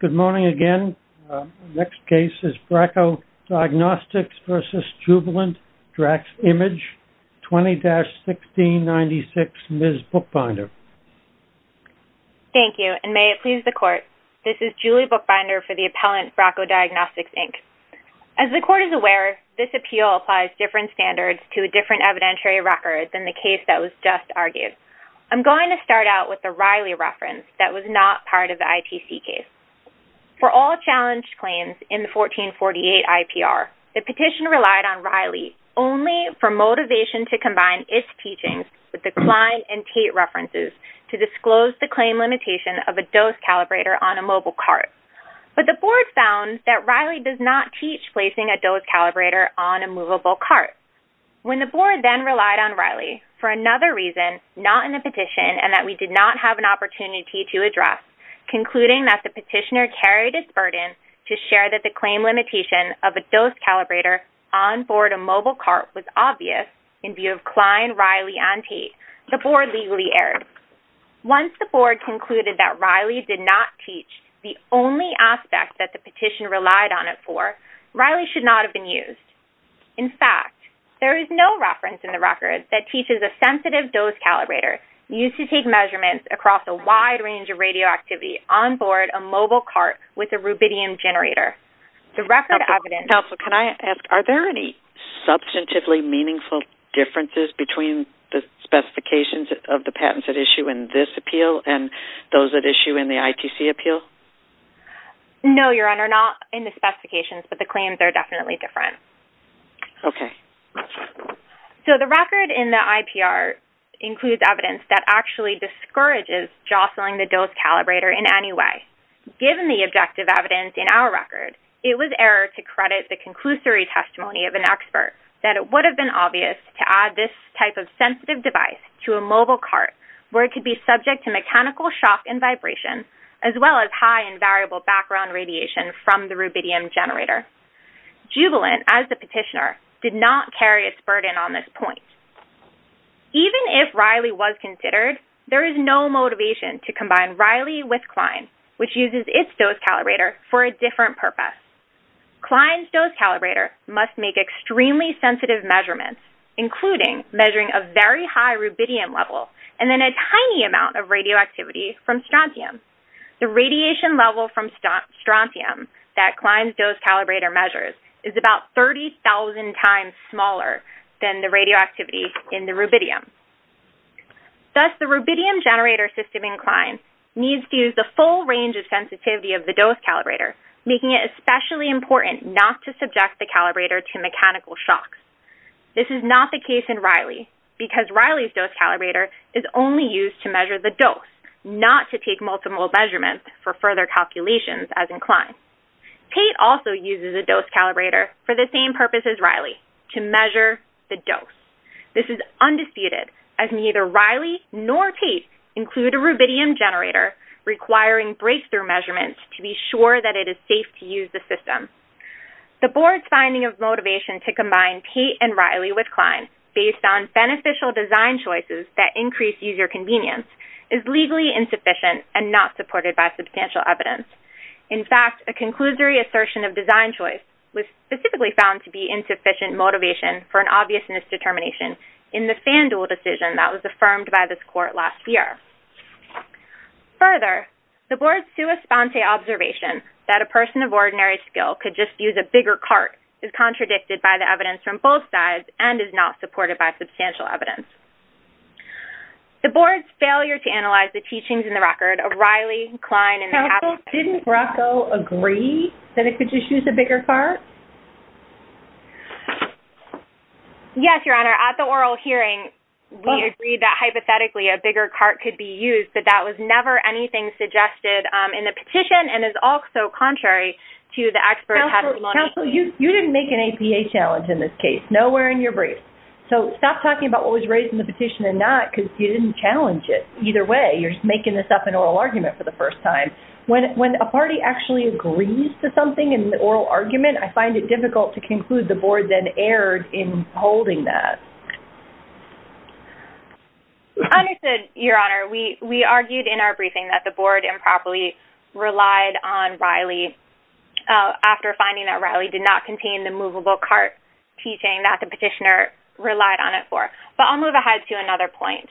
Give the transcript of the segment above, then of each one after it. Good morning again, next case is Bracco Diagnostics v. Jubilant DraxImage, 20-1696, Ms. Bookbinder. Thank you, and may it please the court, this is Julie Bookbinder for the appellant Bracco Diagnostics Inc. As the court is aware, this appeal applies different standards to different evidentiary records in the case that was just argued. I'm going to start out with the Riley reference that was not part of the ITC case. For all challenged claims in the 1448 IPR, the petition relied on Riley only for motivation to combine its teachings with the Klein and Tate references to disclose the claim limitation of a dose calibrator on a mobile cart. But the board found that Riley does not teach placing a dose calibrator on a movable cart. When the board then relied on Riley for another reason, not in the petition, and that we did not have an opportunity to address, concluding that the petitioner carried his burden to share that the claim limitation of a dose calibrator on board a mobile cart was obvious in view of Klein, Riley, and Tate, the board legally erred. Once the board concluded that Riley did not teach the only aspect that the petition relied on it for, Riley should not have been used. In fact, there is no reference in the record that teaches a sensitive dose calibrator used to take measurements across a wide range of radioactivity on board a mobile cart with a rubidium generator. The record evidence... Counsel, can I ask, are there any substantively meaningful differences between the specifications of the patents at issue in this appeal and those at issue in the ITC appeal? No, Your Honor, not in the specifications, but the claims are definitely different. Okay. So, the record in the IPR includes evidence that actually discourages jostling the dose calibrator in any way. Given the objective evidence in our record, it was error to credit the conclusory testimony of an expert that it would have been obvious to add this type of sensitive device to a mobile cart where it could be subject to mechanical shock and vibration, as well as high and variable background radiation from the rubidium generator. Jubilant, as the petitioner, did not carry its burden on this point. Even if Riley was considered, there is no motivation to combine Riley with Klein, which uses its dose calibrator for a different purpose. Klein's dose calibrator must make extremely sensitive measurements, including measuring a very high rubidium level and then a tiny amount of radioactivity from strontium. The radiation level from strontium that Klein's dose calibrator measures is about 30,000 times smaller than the radioactivity in the rubidium. Thus, the rubidium generator system in Klein needs to use the full range of sensitivity of the dose calibrator, making it especially important not to subject the calibrator to mechanical shocks. This is not the case in Riley, because Riley's dose calibrator is only used to measure the system will measurement for further calculations, as in Klein. Tait also uses a dose calibrator for the same purpose as Riley, to measure the dose. This is undisputed, as neither Riley nor Tait include a rubidium generator, requiring breakthrough measurements to be sure that it is safe to use the system. The board's finding of motivation to combine Tait and Riley with Klein, based on beneficial design choices that increase user convenience, is legally insufficient and not supported by substantial evidence. In fact, a conclusory assertion of design choice was specifically found to be insufficient motivation for an obvious misdetermination in the FanDuel decision that was affirmed by this court last year. Further, the board's sua sponte observation that a person of ordinary skill could just use a bigger cart is contradicted by the evidence from both sides and is not supported by substantial evidence. The board's failure to analyze the teachings in the record of Riley, Klein, and the Council, didn't Rocco agree that it could just use a bigger cart? Yes, Your Honor, at the oral hearing, we agreed that hypothetically a bigger cart could be used, but that was never anything suggested in the petition and is also contrary to the experts' Council, you didn't make an APA challenge in this case. Nowhere in your brief. So stop talking about what was raised in the petition and not, because you didn't challenge it. Either way, you're making this up an oral argument for the first time. When a party actually agrees to something in the oral argument, I find it difficult to conclude the board then erred in holding that. Understood, Your Honor. We argued in our briefing that the board improperly relied on Riley after finding that Riley did not contain the movable cart teaching that the petitioner relied on it for. But I'll move ahead to another point,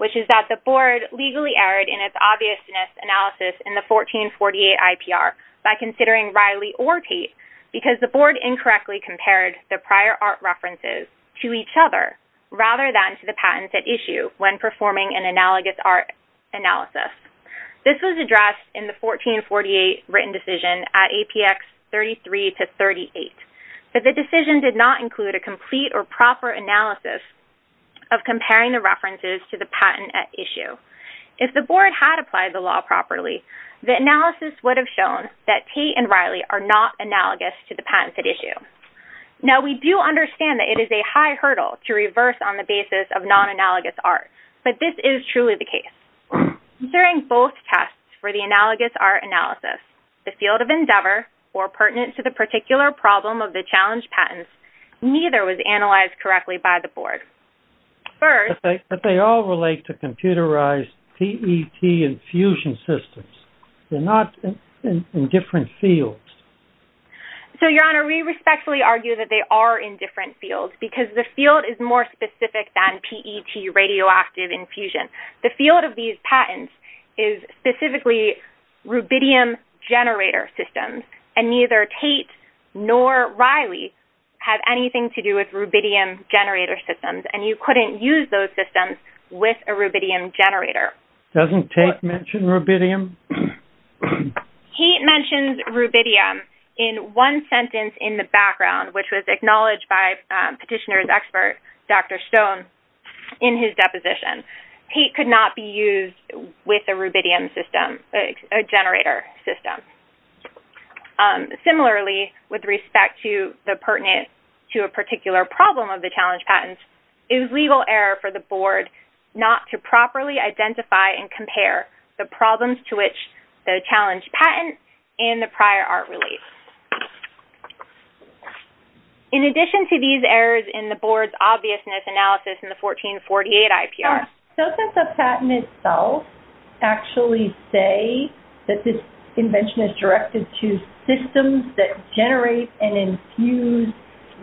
which is that the board legally erred in its obviousness analysis in the 1448 IPR by considering Riley or Tate because the board incorrectly compared the prior art references to each other rather than to the patents at issue when performing an analogous art analysis. This was addressed in the 1448 written decision at APX 33 to 38. But the decision did not include a complete or proper analysis of comparing the references to the patent at issue. If the board had applied the law properly, the analysis would have shown that Tate and Riley are not analogous to the patents at issue. Now we do understand that it is a high hurdle to reverse on the basis of non-analogous art, but this is truly the case. During both tests for the analogous art analysis, the field of endeavor or pertinent to the particular problem of the challenge patents, neither was analyzed correctly by the board. First... But they all relate to computerized PET infusion systems. They're not in different fields. So, Your Honor, we respectfully argue that they are in different fields because the field is more specific than PET radioactive infusion. The field of these patents is specifically rubidium generator systems, and neither Tate nor Riley have anything to do with rubidium generator systems. And you couldn't use those systems with a rubidium generator. Doesn't Tate mention rubidium? He mentions rubidium in one sentence in the background, which was acknowledged by petitioner's Tate could not be used with a rubidium system, a generator system. Similarly, with respect to the pertinent to a particular problem of the challenge patents, it was legal error for the board not to properly identify and compare the problems to which the challenge patent and the prior art relate. In addition to these errors in the board's obviousness analysis in the 1448 IPR... Does the patent itself actually say that this invention is directed to systems that generate and infuse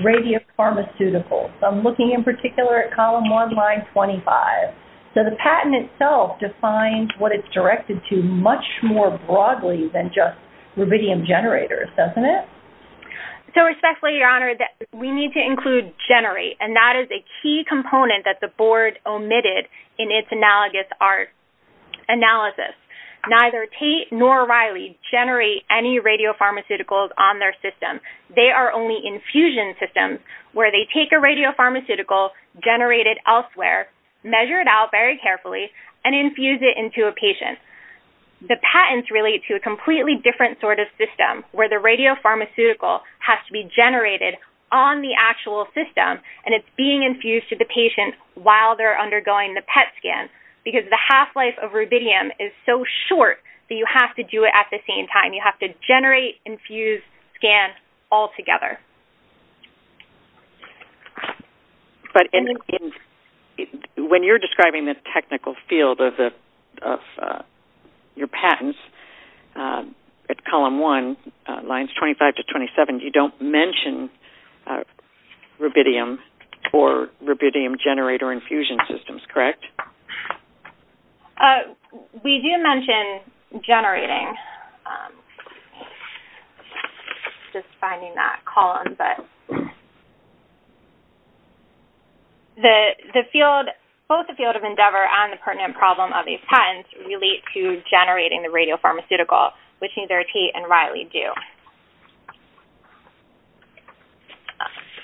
radiopharmaceuticals? I'm looking in particular at column one, line 25. So the patent itself defines what it's directed to much more broadly than just rubidium generators, doesn't it? So respectfully, Your Honor, we need to include generate, and that is a key component that the board omitted in its analogous art analysis. Neither Tate nor Riley generate any radiopharmaceuticals on their system. They are only infusion systems where they take a radiopharmaceutical generated elsewhere, measure it out very carefully, and infuse it into a patient. The patents relate to a completely different sort of system where the radiopharmaceutical has to be generated on the actual system and it's being infused to the patient while they're undergoing the PET scan because the half-life of rubidium is so short that you have to do it at the same time. You have to generate, infuse, scan all together. But when you're describing the technical field of your patents at column one, lines 25 to 27, you don't mention rubidium or rubidium generator infusion systems, correct? We do mention generating, just finding that column, but the field, both the field of endeavor and the pertinent problem of these patents relate to generating the radiopharmaceutical, which neither Tate nor Riley do.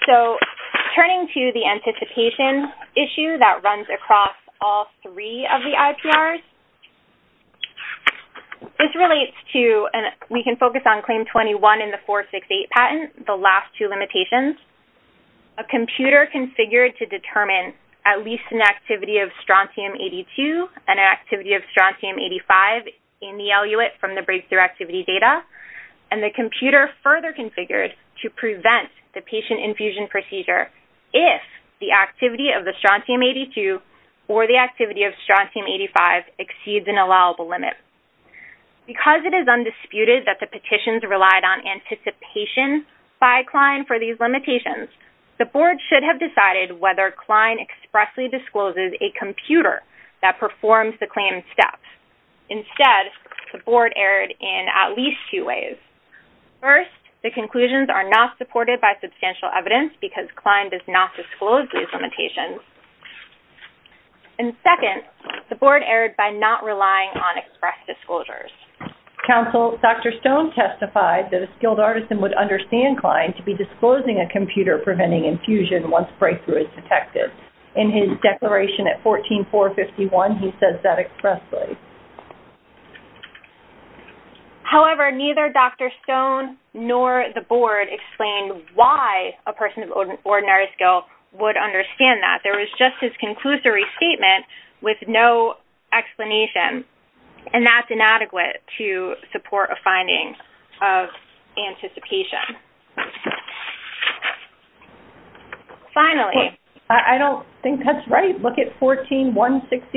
So, turning to the anticipation issue that runs across all three of the IPRs, this relates to, and we can focus on claim 21 in the 468 patent, the last two limitations, a computer configured to determine at least an activity of strontium-82 and an activity of strontium-85 in the eluate from the breakthrough activity data, and the computer further configured to prevent the patient infusion procedure if the activity of the strontium-82 or the activity of strontium-85 exceeds an allowable limit. Because it is undisputed that the petitions relied on anticipation by Klein for these limitations, the board should have decided whether Klein expressly discloses a computer that performs the claimed steps. Instead, the board erred in at least two ways. First, the conclusions are not supported by substantial evidence because Klein does not disclose these limitations. And second, the board erred by not relying on express disclosures. Counsel, Dr. Stone testified that a skilled artisan would understand Klein to be disclosing a computer preventing infusion once breakthrough is detected. In his declaration at 14.451, he says that expressly. However, neither Dr. Stone nor the board explained why a person of ordinary skill would understand that. There was just his conclusory statement with no explanation. And that's inadequate to support a finding of anticipation. Finally. I don't think that's right. Look at 14.160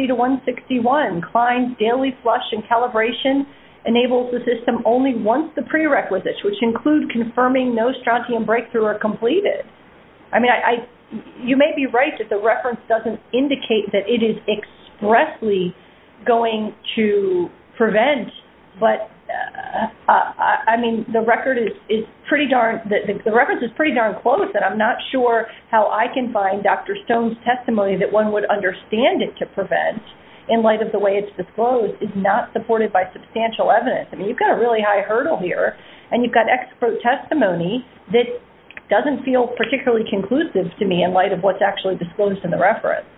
to 161. Klein's daily flush and calibration enables the system only once the prerequisites, which include confirming no strontium breakthrough are completed. I mean, you may be right that the reference doesn't indicate that it is expressly going to prevent. But, I mean, the record is pretty darn, the reference is pretty darn close. And I'm not sure how I can find Dr. Stone's testimony that one would understand it to prevent in light of the way it's disclosed is not supported by substantial evidence. I mean, you've got a really high hurdle here. And you've got expert testimony that doesn't feel particularly conclusive to me in light of what's actually disclosed in the reference.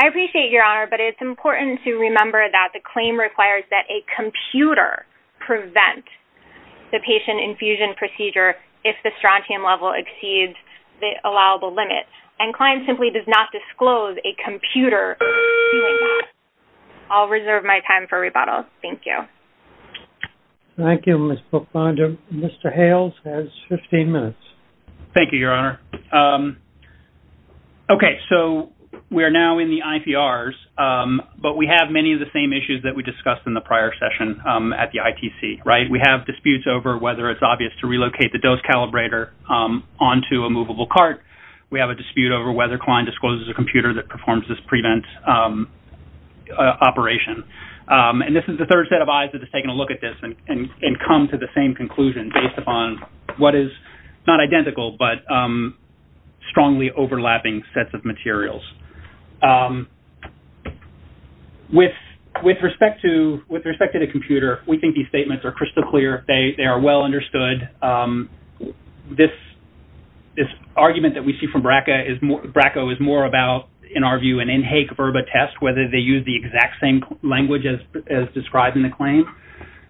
I appreciate, Your Honor. But it's important to remember that the claim requires that a computer prevent the patient infusion procedure if the strontium level exceeds the allowable limit. And Klein simply does not disclose a computer doing that. I'll reserve my time for rebuttal. Thank you. Thank you, Ms. Bookbinder. Mr. Hales has 15 minutes. Thank you, Your Honor. Okay. So, we are now in the IPRs. But we have many of the same issues that we discussed in the prior session at the ITC, right? We have disputes over whether it's obvious to relocate the dose calibrator onto a movable cart. We have a dispute over whether Klein discloses a computer that performs this prevent operation. And this is the third set of eyes that has taken a look at this and come to the same conclusion based upon what is not identical, but strongly overlapping sets of materials. With respect to the computer, we think these statements are crystal clear. They are well understood. This argument that we see from BRCAO is more about, in our view, an in hake verba test, whether they use the exact same language as described in the claim.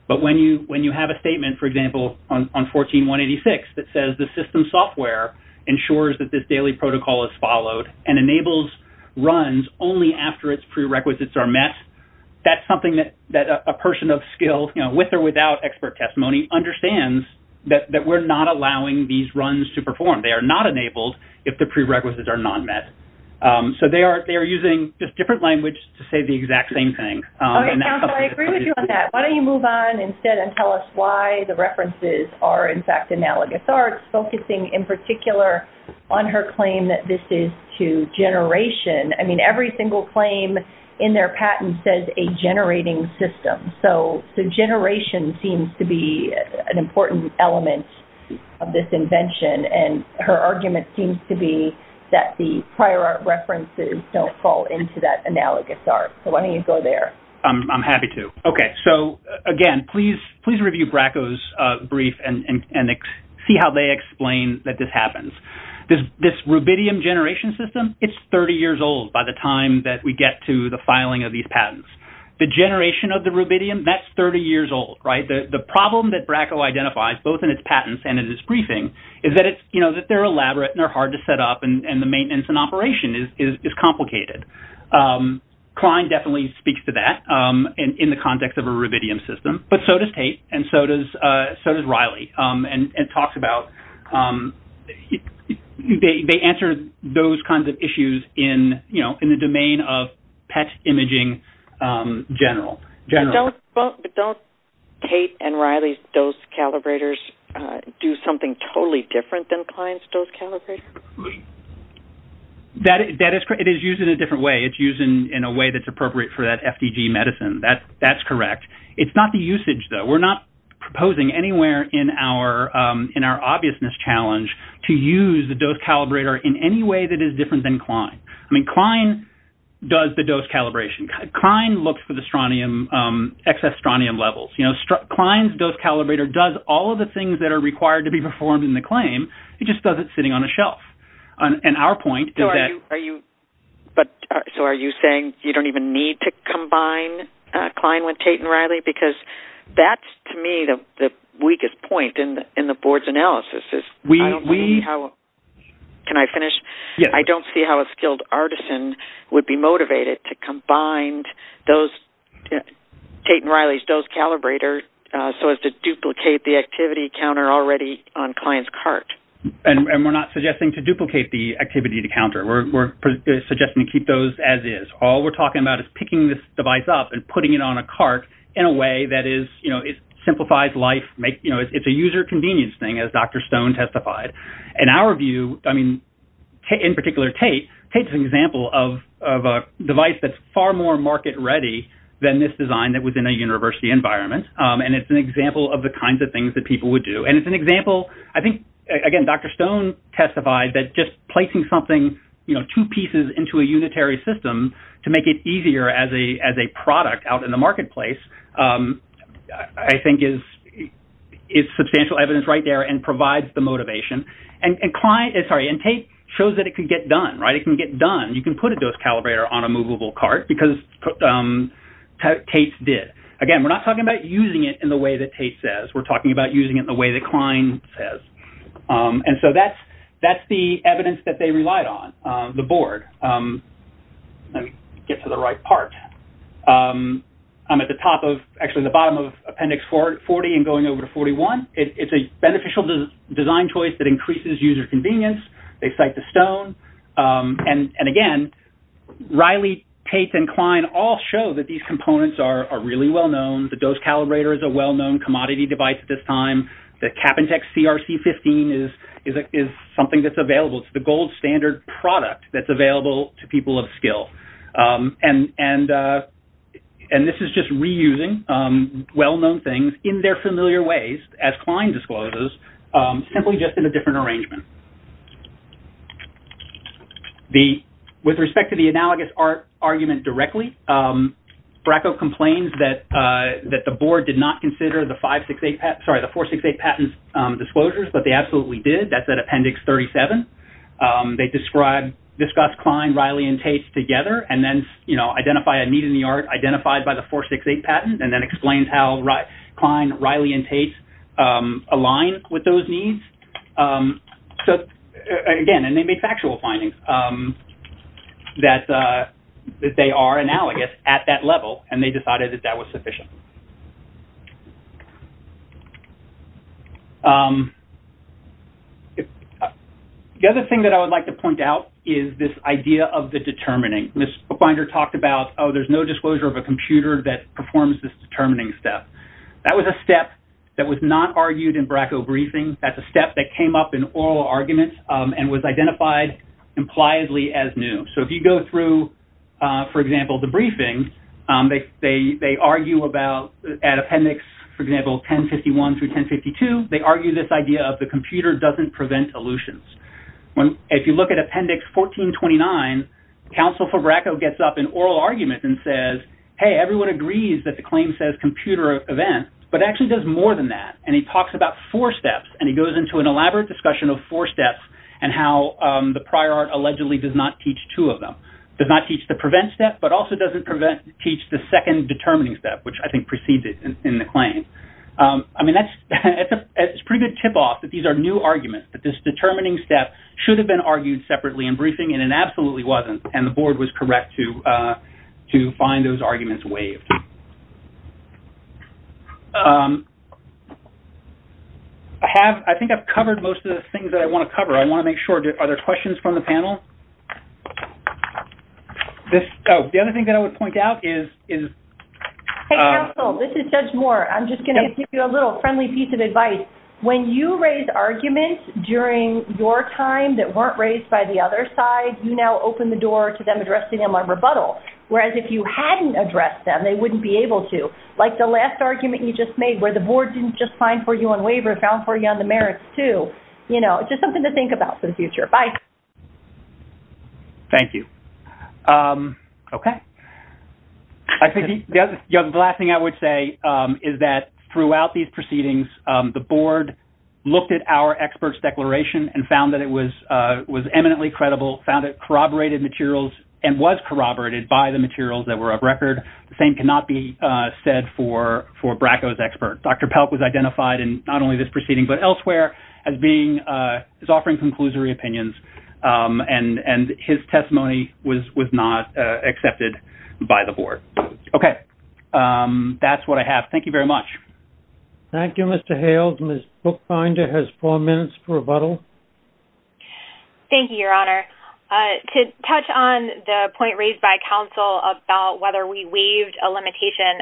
But when you have a statement, for example, on 14186, that says the system software ensures that this daily protocol is followed and enables runs only after its prerequisites are met, that's something that a person of skill, you know, with or without expert testimony, understands that we're not allowing these runs to perform. They are not enabled if the prerequisites are not met. So, they are using just different language to say the exact same thing. Okay, counsel, I agree with you on that. Why don't you move on instead and tell us why the references are, in fact, analogous arts, focusing in particular on her claim that this is to generation. I mean, every single claim in their patent says a generating system. So, generation seems to be an important element of this invention. And her argument seems to be that the prior art references don't fall into that analogous art. So, why don't you go there? I'm happy to. Okay, so, again, please review Bracco's brief and see how they explain that this happens. This rubidium generation system, it's 30 years old by the time that we get to the filing of these patents. The generation of the rubidium, that's 30 years old, right? The problem that Bracco identifies, both in its patents and in its briefing, is that it's, you know, that they're elaborate and they're hard to set up and the maintenance and operation is complicated. Klein definitely speaks to that in the context of a rubidium system, but so does Tait and so does Riley. And it talks about, they answer those kinds of issues in, you know, in the domain of PET imaging general. But don't Tait and Riley's dose calibrators do something totally different than Klein's dose calibrators? That is correct. It is used in a different way. It's used in a way that's appropriate for that FDG medicine. That's correct. It's not the usage, though. We're not proposing anywhere in our obviousness challenge to use the dose calibrator in any way that is different than Klein. I mean, Klein does the dose calibration. Klein looks for the strontium, excess strontium levels. You know, Klein's dose calibrator does all of the things that are required to be performed in the claim. It just does it sitting on a shelf. And our point is that... So are you saying you don't even need to combine Klein with Tait and Riley? Because that's, to me, the weakest point in the board's analysis. I don't see how... Can I finish? Yes. I don't see how a skilled artisan would be motivated to combine Tait and Riley's dose calibrator so as to duplicate the activity counter already on Klein's cart. And we're not suggesting to duplicate the activity counter. We're suggesting to keep those as-is. All we're talking about is picking this device up and putting it on a cart in a way that simplifies life. It's a user convenience thing, as Dr. Stone testified. In our view, I mean, in particular Tait, Tait's an example of a device that's far more market-ready than this design that was in a university environment. And it's an example of the kinds of things that people would do. And it's an example... I think, again, Dr. Stone testified that just placing something, you know, two pieces into a unitary system to make it easier as a product out in the marketplace, I think is substantial evidence right there and provides the motivation. And Klein... Sorry. And Tait shows that it can get done, right? It can get done. You can put a dose calibrator on a movable cart because Tait did. Again, we're not talking about using it in the way that Tait says. We're talking about using it in the way that Klein says. And so that's the evidence that they relied on, the board. Let me get to the right part. I'm at the top of... Actually, the bottom of Appendix 40 and going over to 41. It's a beneficial design choice that increases user convenience. They cite to Stone. And, again, Riley, Tait, and Klein all show that these components are really well-known. The dose calibrator is a well-known commodity device at this time. The Capintex CRC-15 is something that's available. It's the gold standard product that's available to people of skill. And this is just reusing well-known things in their familiar ways, as Klein discloses, simply just in a different arrangement. With respect to the analogous argument directly, Bracco complains that the board did not consider the 468 Patent's disclosures, but they absolutely did. That's at Appendix 37. They discuss Klein, Riley, and Tait together and then identify a need in the art identified by the 468 Patent and then explains how Klein, Riley, and Tait align with those needs. So, again, and they make factual findings that they are analogous at that level, and they decided that that was sufficient. The other thing that I would like to point out is this idea of the determining. Ms. Finder talked about, oh, there's no disclosure of a computer that performs this determining step. That was a step that was not argued in Bracco briefings. That's a step that came up in oral arguments and was identified impliedly as new. So if you go through, for example, the briefing, they argue about, at Appendix, for example, 1051 through 1052, they argue this idea of the computer doesn't prevent elutions. If you look at Appendix 1429, Counsel for Bracco gets up in oral argument and says, hey, everyone agrees that the claim says computer event, but it actually does more than that. And he talks about four steps, and he goes into an elaborate discussion of four steps and how the prior art allegedly does not teach two of them. It does not teach the prevent step, but also doesn't teach the second determining step, which I think precedes it in the claim. I mean, that's a pretty good tip-off that these are new arguments, that this determining step should have been argued separately in briefing, and it absolutely wasn't, and the board was correct to find those arguments waived. I think I've covered most of the things that I want to cover. I want to make sure, are there questions from the panel? The other thing that I would point out is... Hey, Counsel, this is Judge Moore. I'm just going to give you a little friendly piece of advice. When you raise arguments during your time that weren't raised by the other side, you now open the door to them addressing them on rebuttal, whereas if you hadn't addressed them, they wouldn't be able to. Like the last argument you just made where the board didn't just find for you on waiver, it found for you on the merits, too. You know, just something to think about for the future. Bye. Thank you. OK. The last thing I would say is that throughout these proceedings, the board looked at our experts' declaration and found that it was eminently credible, found it corroborated materials, and was corroborated by the materials that were of record. The same cannot be said for Bracco's expert. Dr Pelk was identified in not only this proceeding but elsewhere as offering conclusory opinions, and his testimony was not accepted by the board. OK. That's what I have. Thank you very much. Thank you, Mr Hales. Ms Bookbinder has four minutes for rebuttal. Thank you, Your Honour. To touch on the point raised by Counsel about whether we waived a limitation,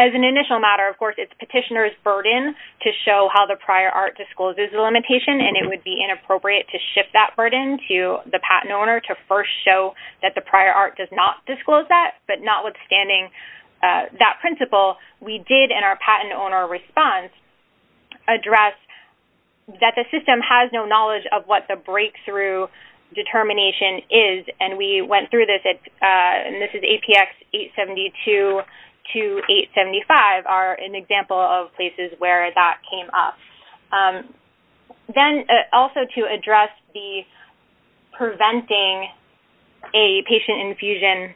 as an initial matter, of course, it's Petitioner's burden to show how the prior art discloses the limitation, and it would be inappropriate to shift that burden to the patent owner to first show that the prior art does not disclose that, but notwithstanding that principle, we did, in our patent owner response, address that the system has no knowledge of what the breakthrough determination is, and we went through this. And this is APX 872 to 875 are an example of places where that came up. Then, also to address the preventing a patient infusion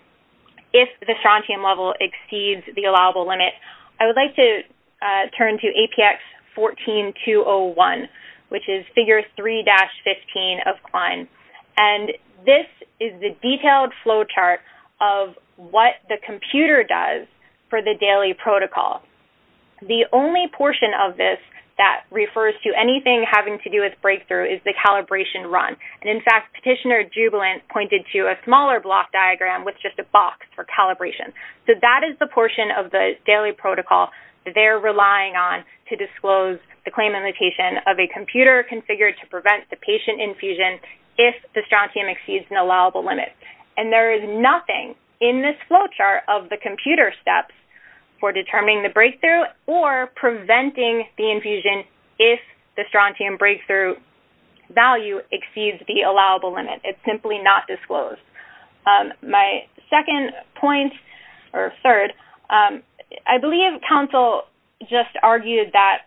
if the strontium level exceeds the allowable limit, I would like to turn to APX 14-201, which is Figure 3-15 of Klein. And this is the detailed flow chart of what the computer does for the daily protocol. The only portion of this that refers to anything having to do with breakthrough is the calibration run. And, in fact, Petitioner-Jubilant pointed to a smaller block diagram with just a box for calibration. So that is the portion of the daily protocol that they're relying on to disclose the claim limitation of a computer configured to prevent the patient infusion if the strontium exceeds an allowable limit. And there is nothing in this flow chart of the computer steps for determining the breakthrough or preventing the infusion if the strontium breakthrough value exceeds the allowable limit. It's simply not disclosed. My second point, or third, I believe Council just argued that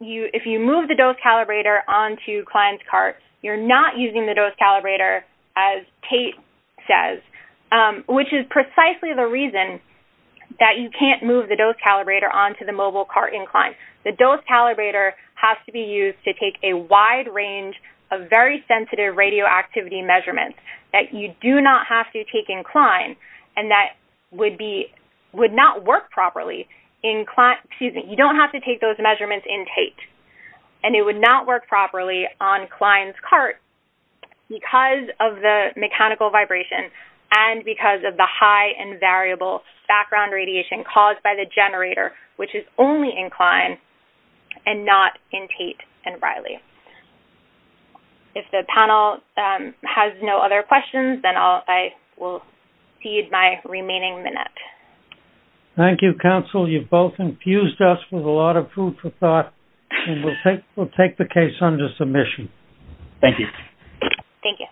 if you move the dose calibrator onto Klein's cart, you're not using the dose calibrator, as Tate says, which is precisely the reason that you can't move the dose calibrator onto the mobile cart in Klein. The dose calibrator has to be used to take a wide range of very sensitive radioactivity measurements that you do not have to take in Klein and that would not work properly in Klein. You don't have to take those measurements in Tate. And it would not work properly on Klein's cart because of the mechanical vibration and because of the high and variable background radiation caused by the generator, which is only in Klein and not in Tate and Riley. If the panel has no other questions, then I will cede my remaining minute. Thank you, Council. You've both infused us with a lot of food for thought and we'll take the case under submission. Thank you.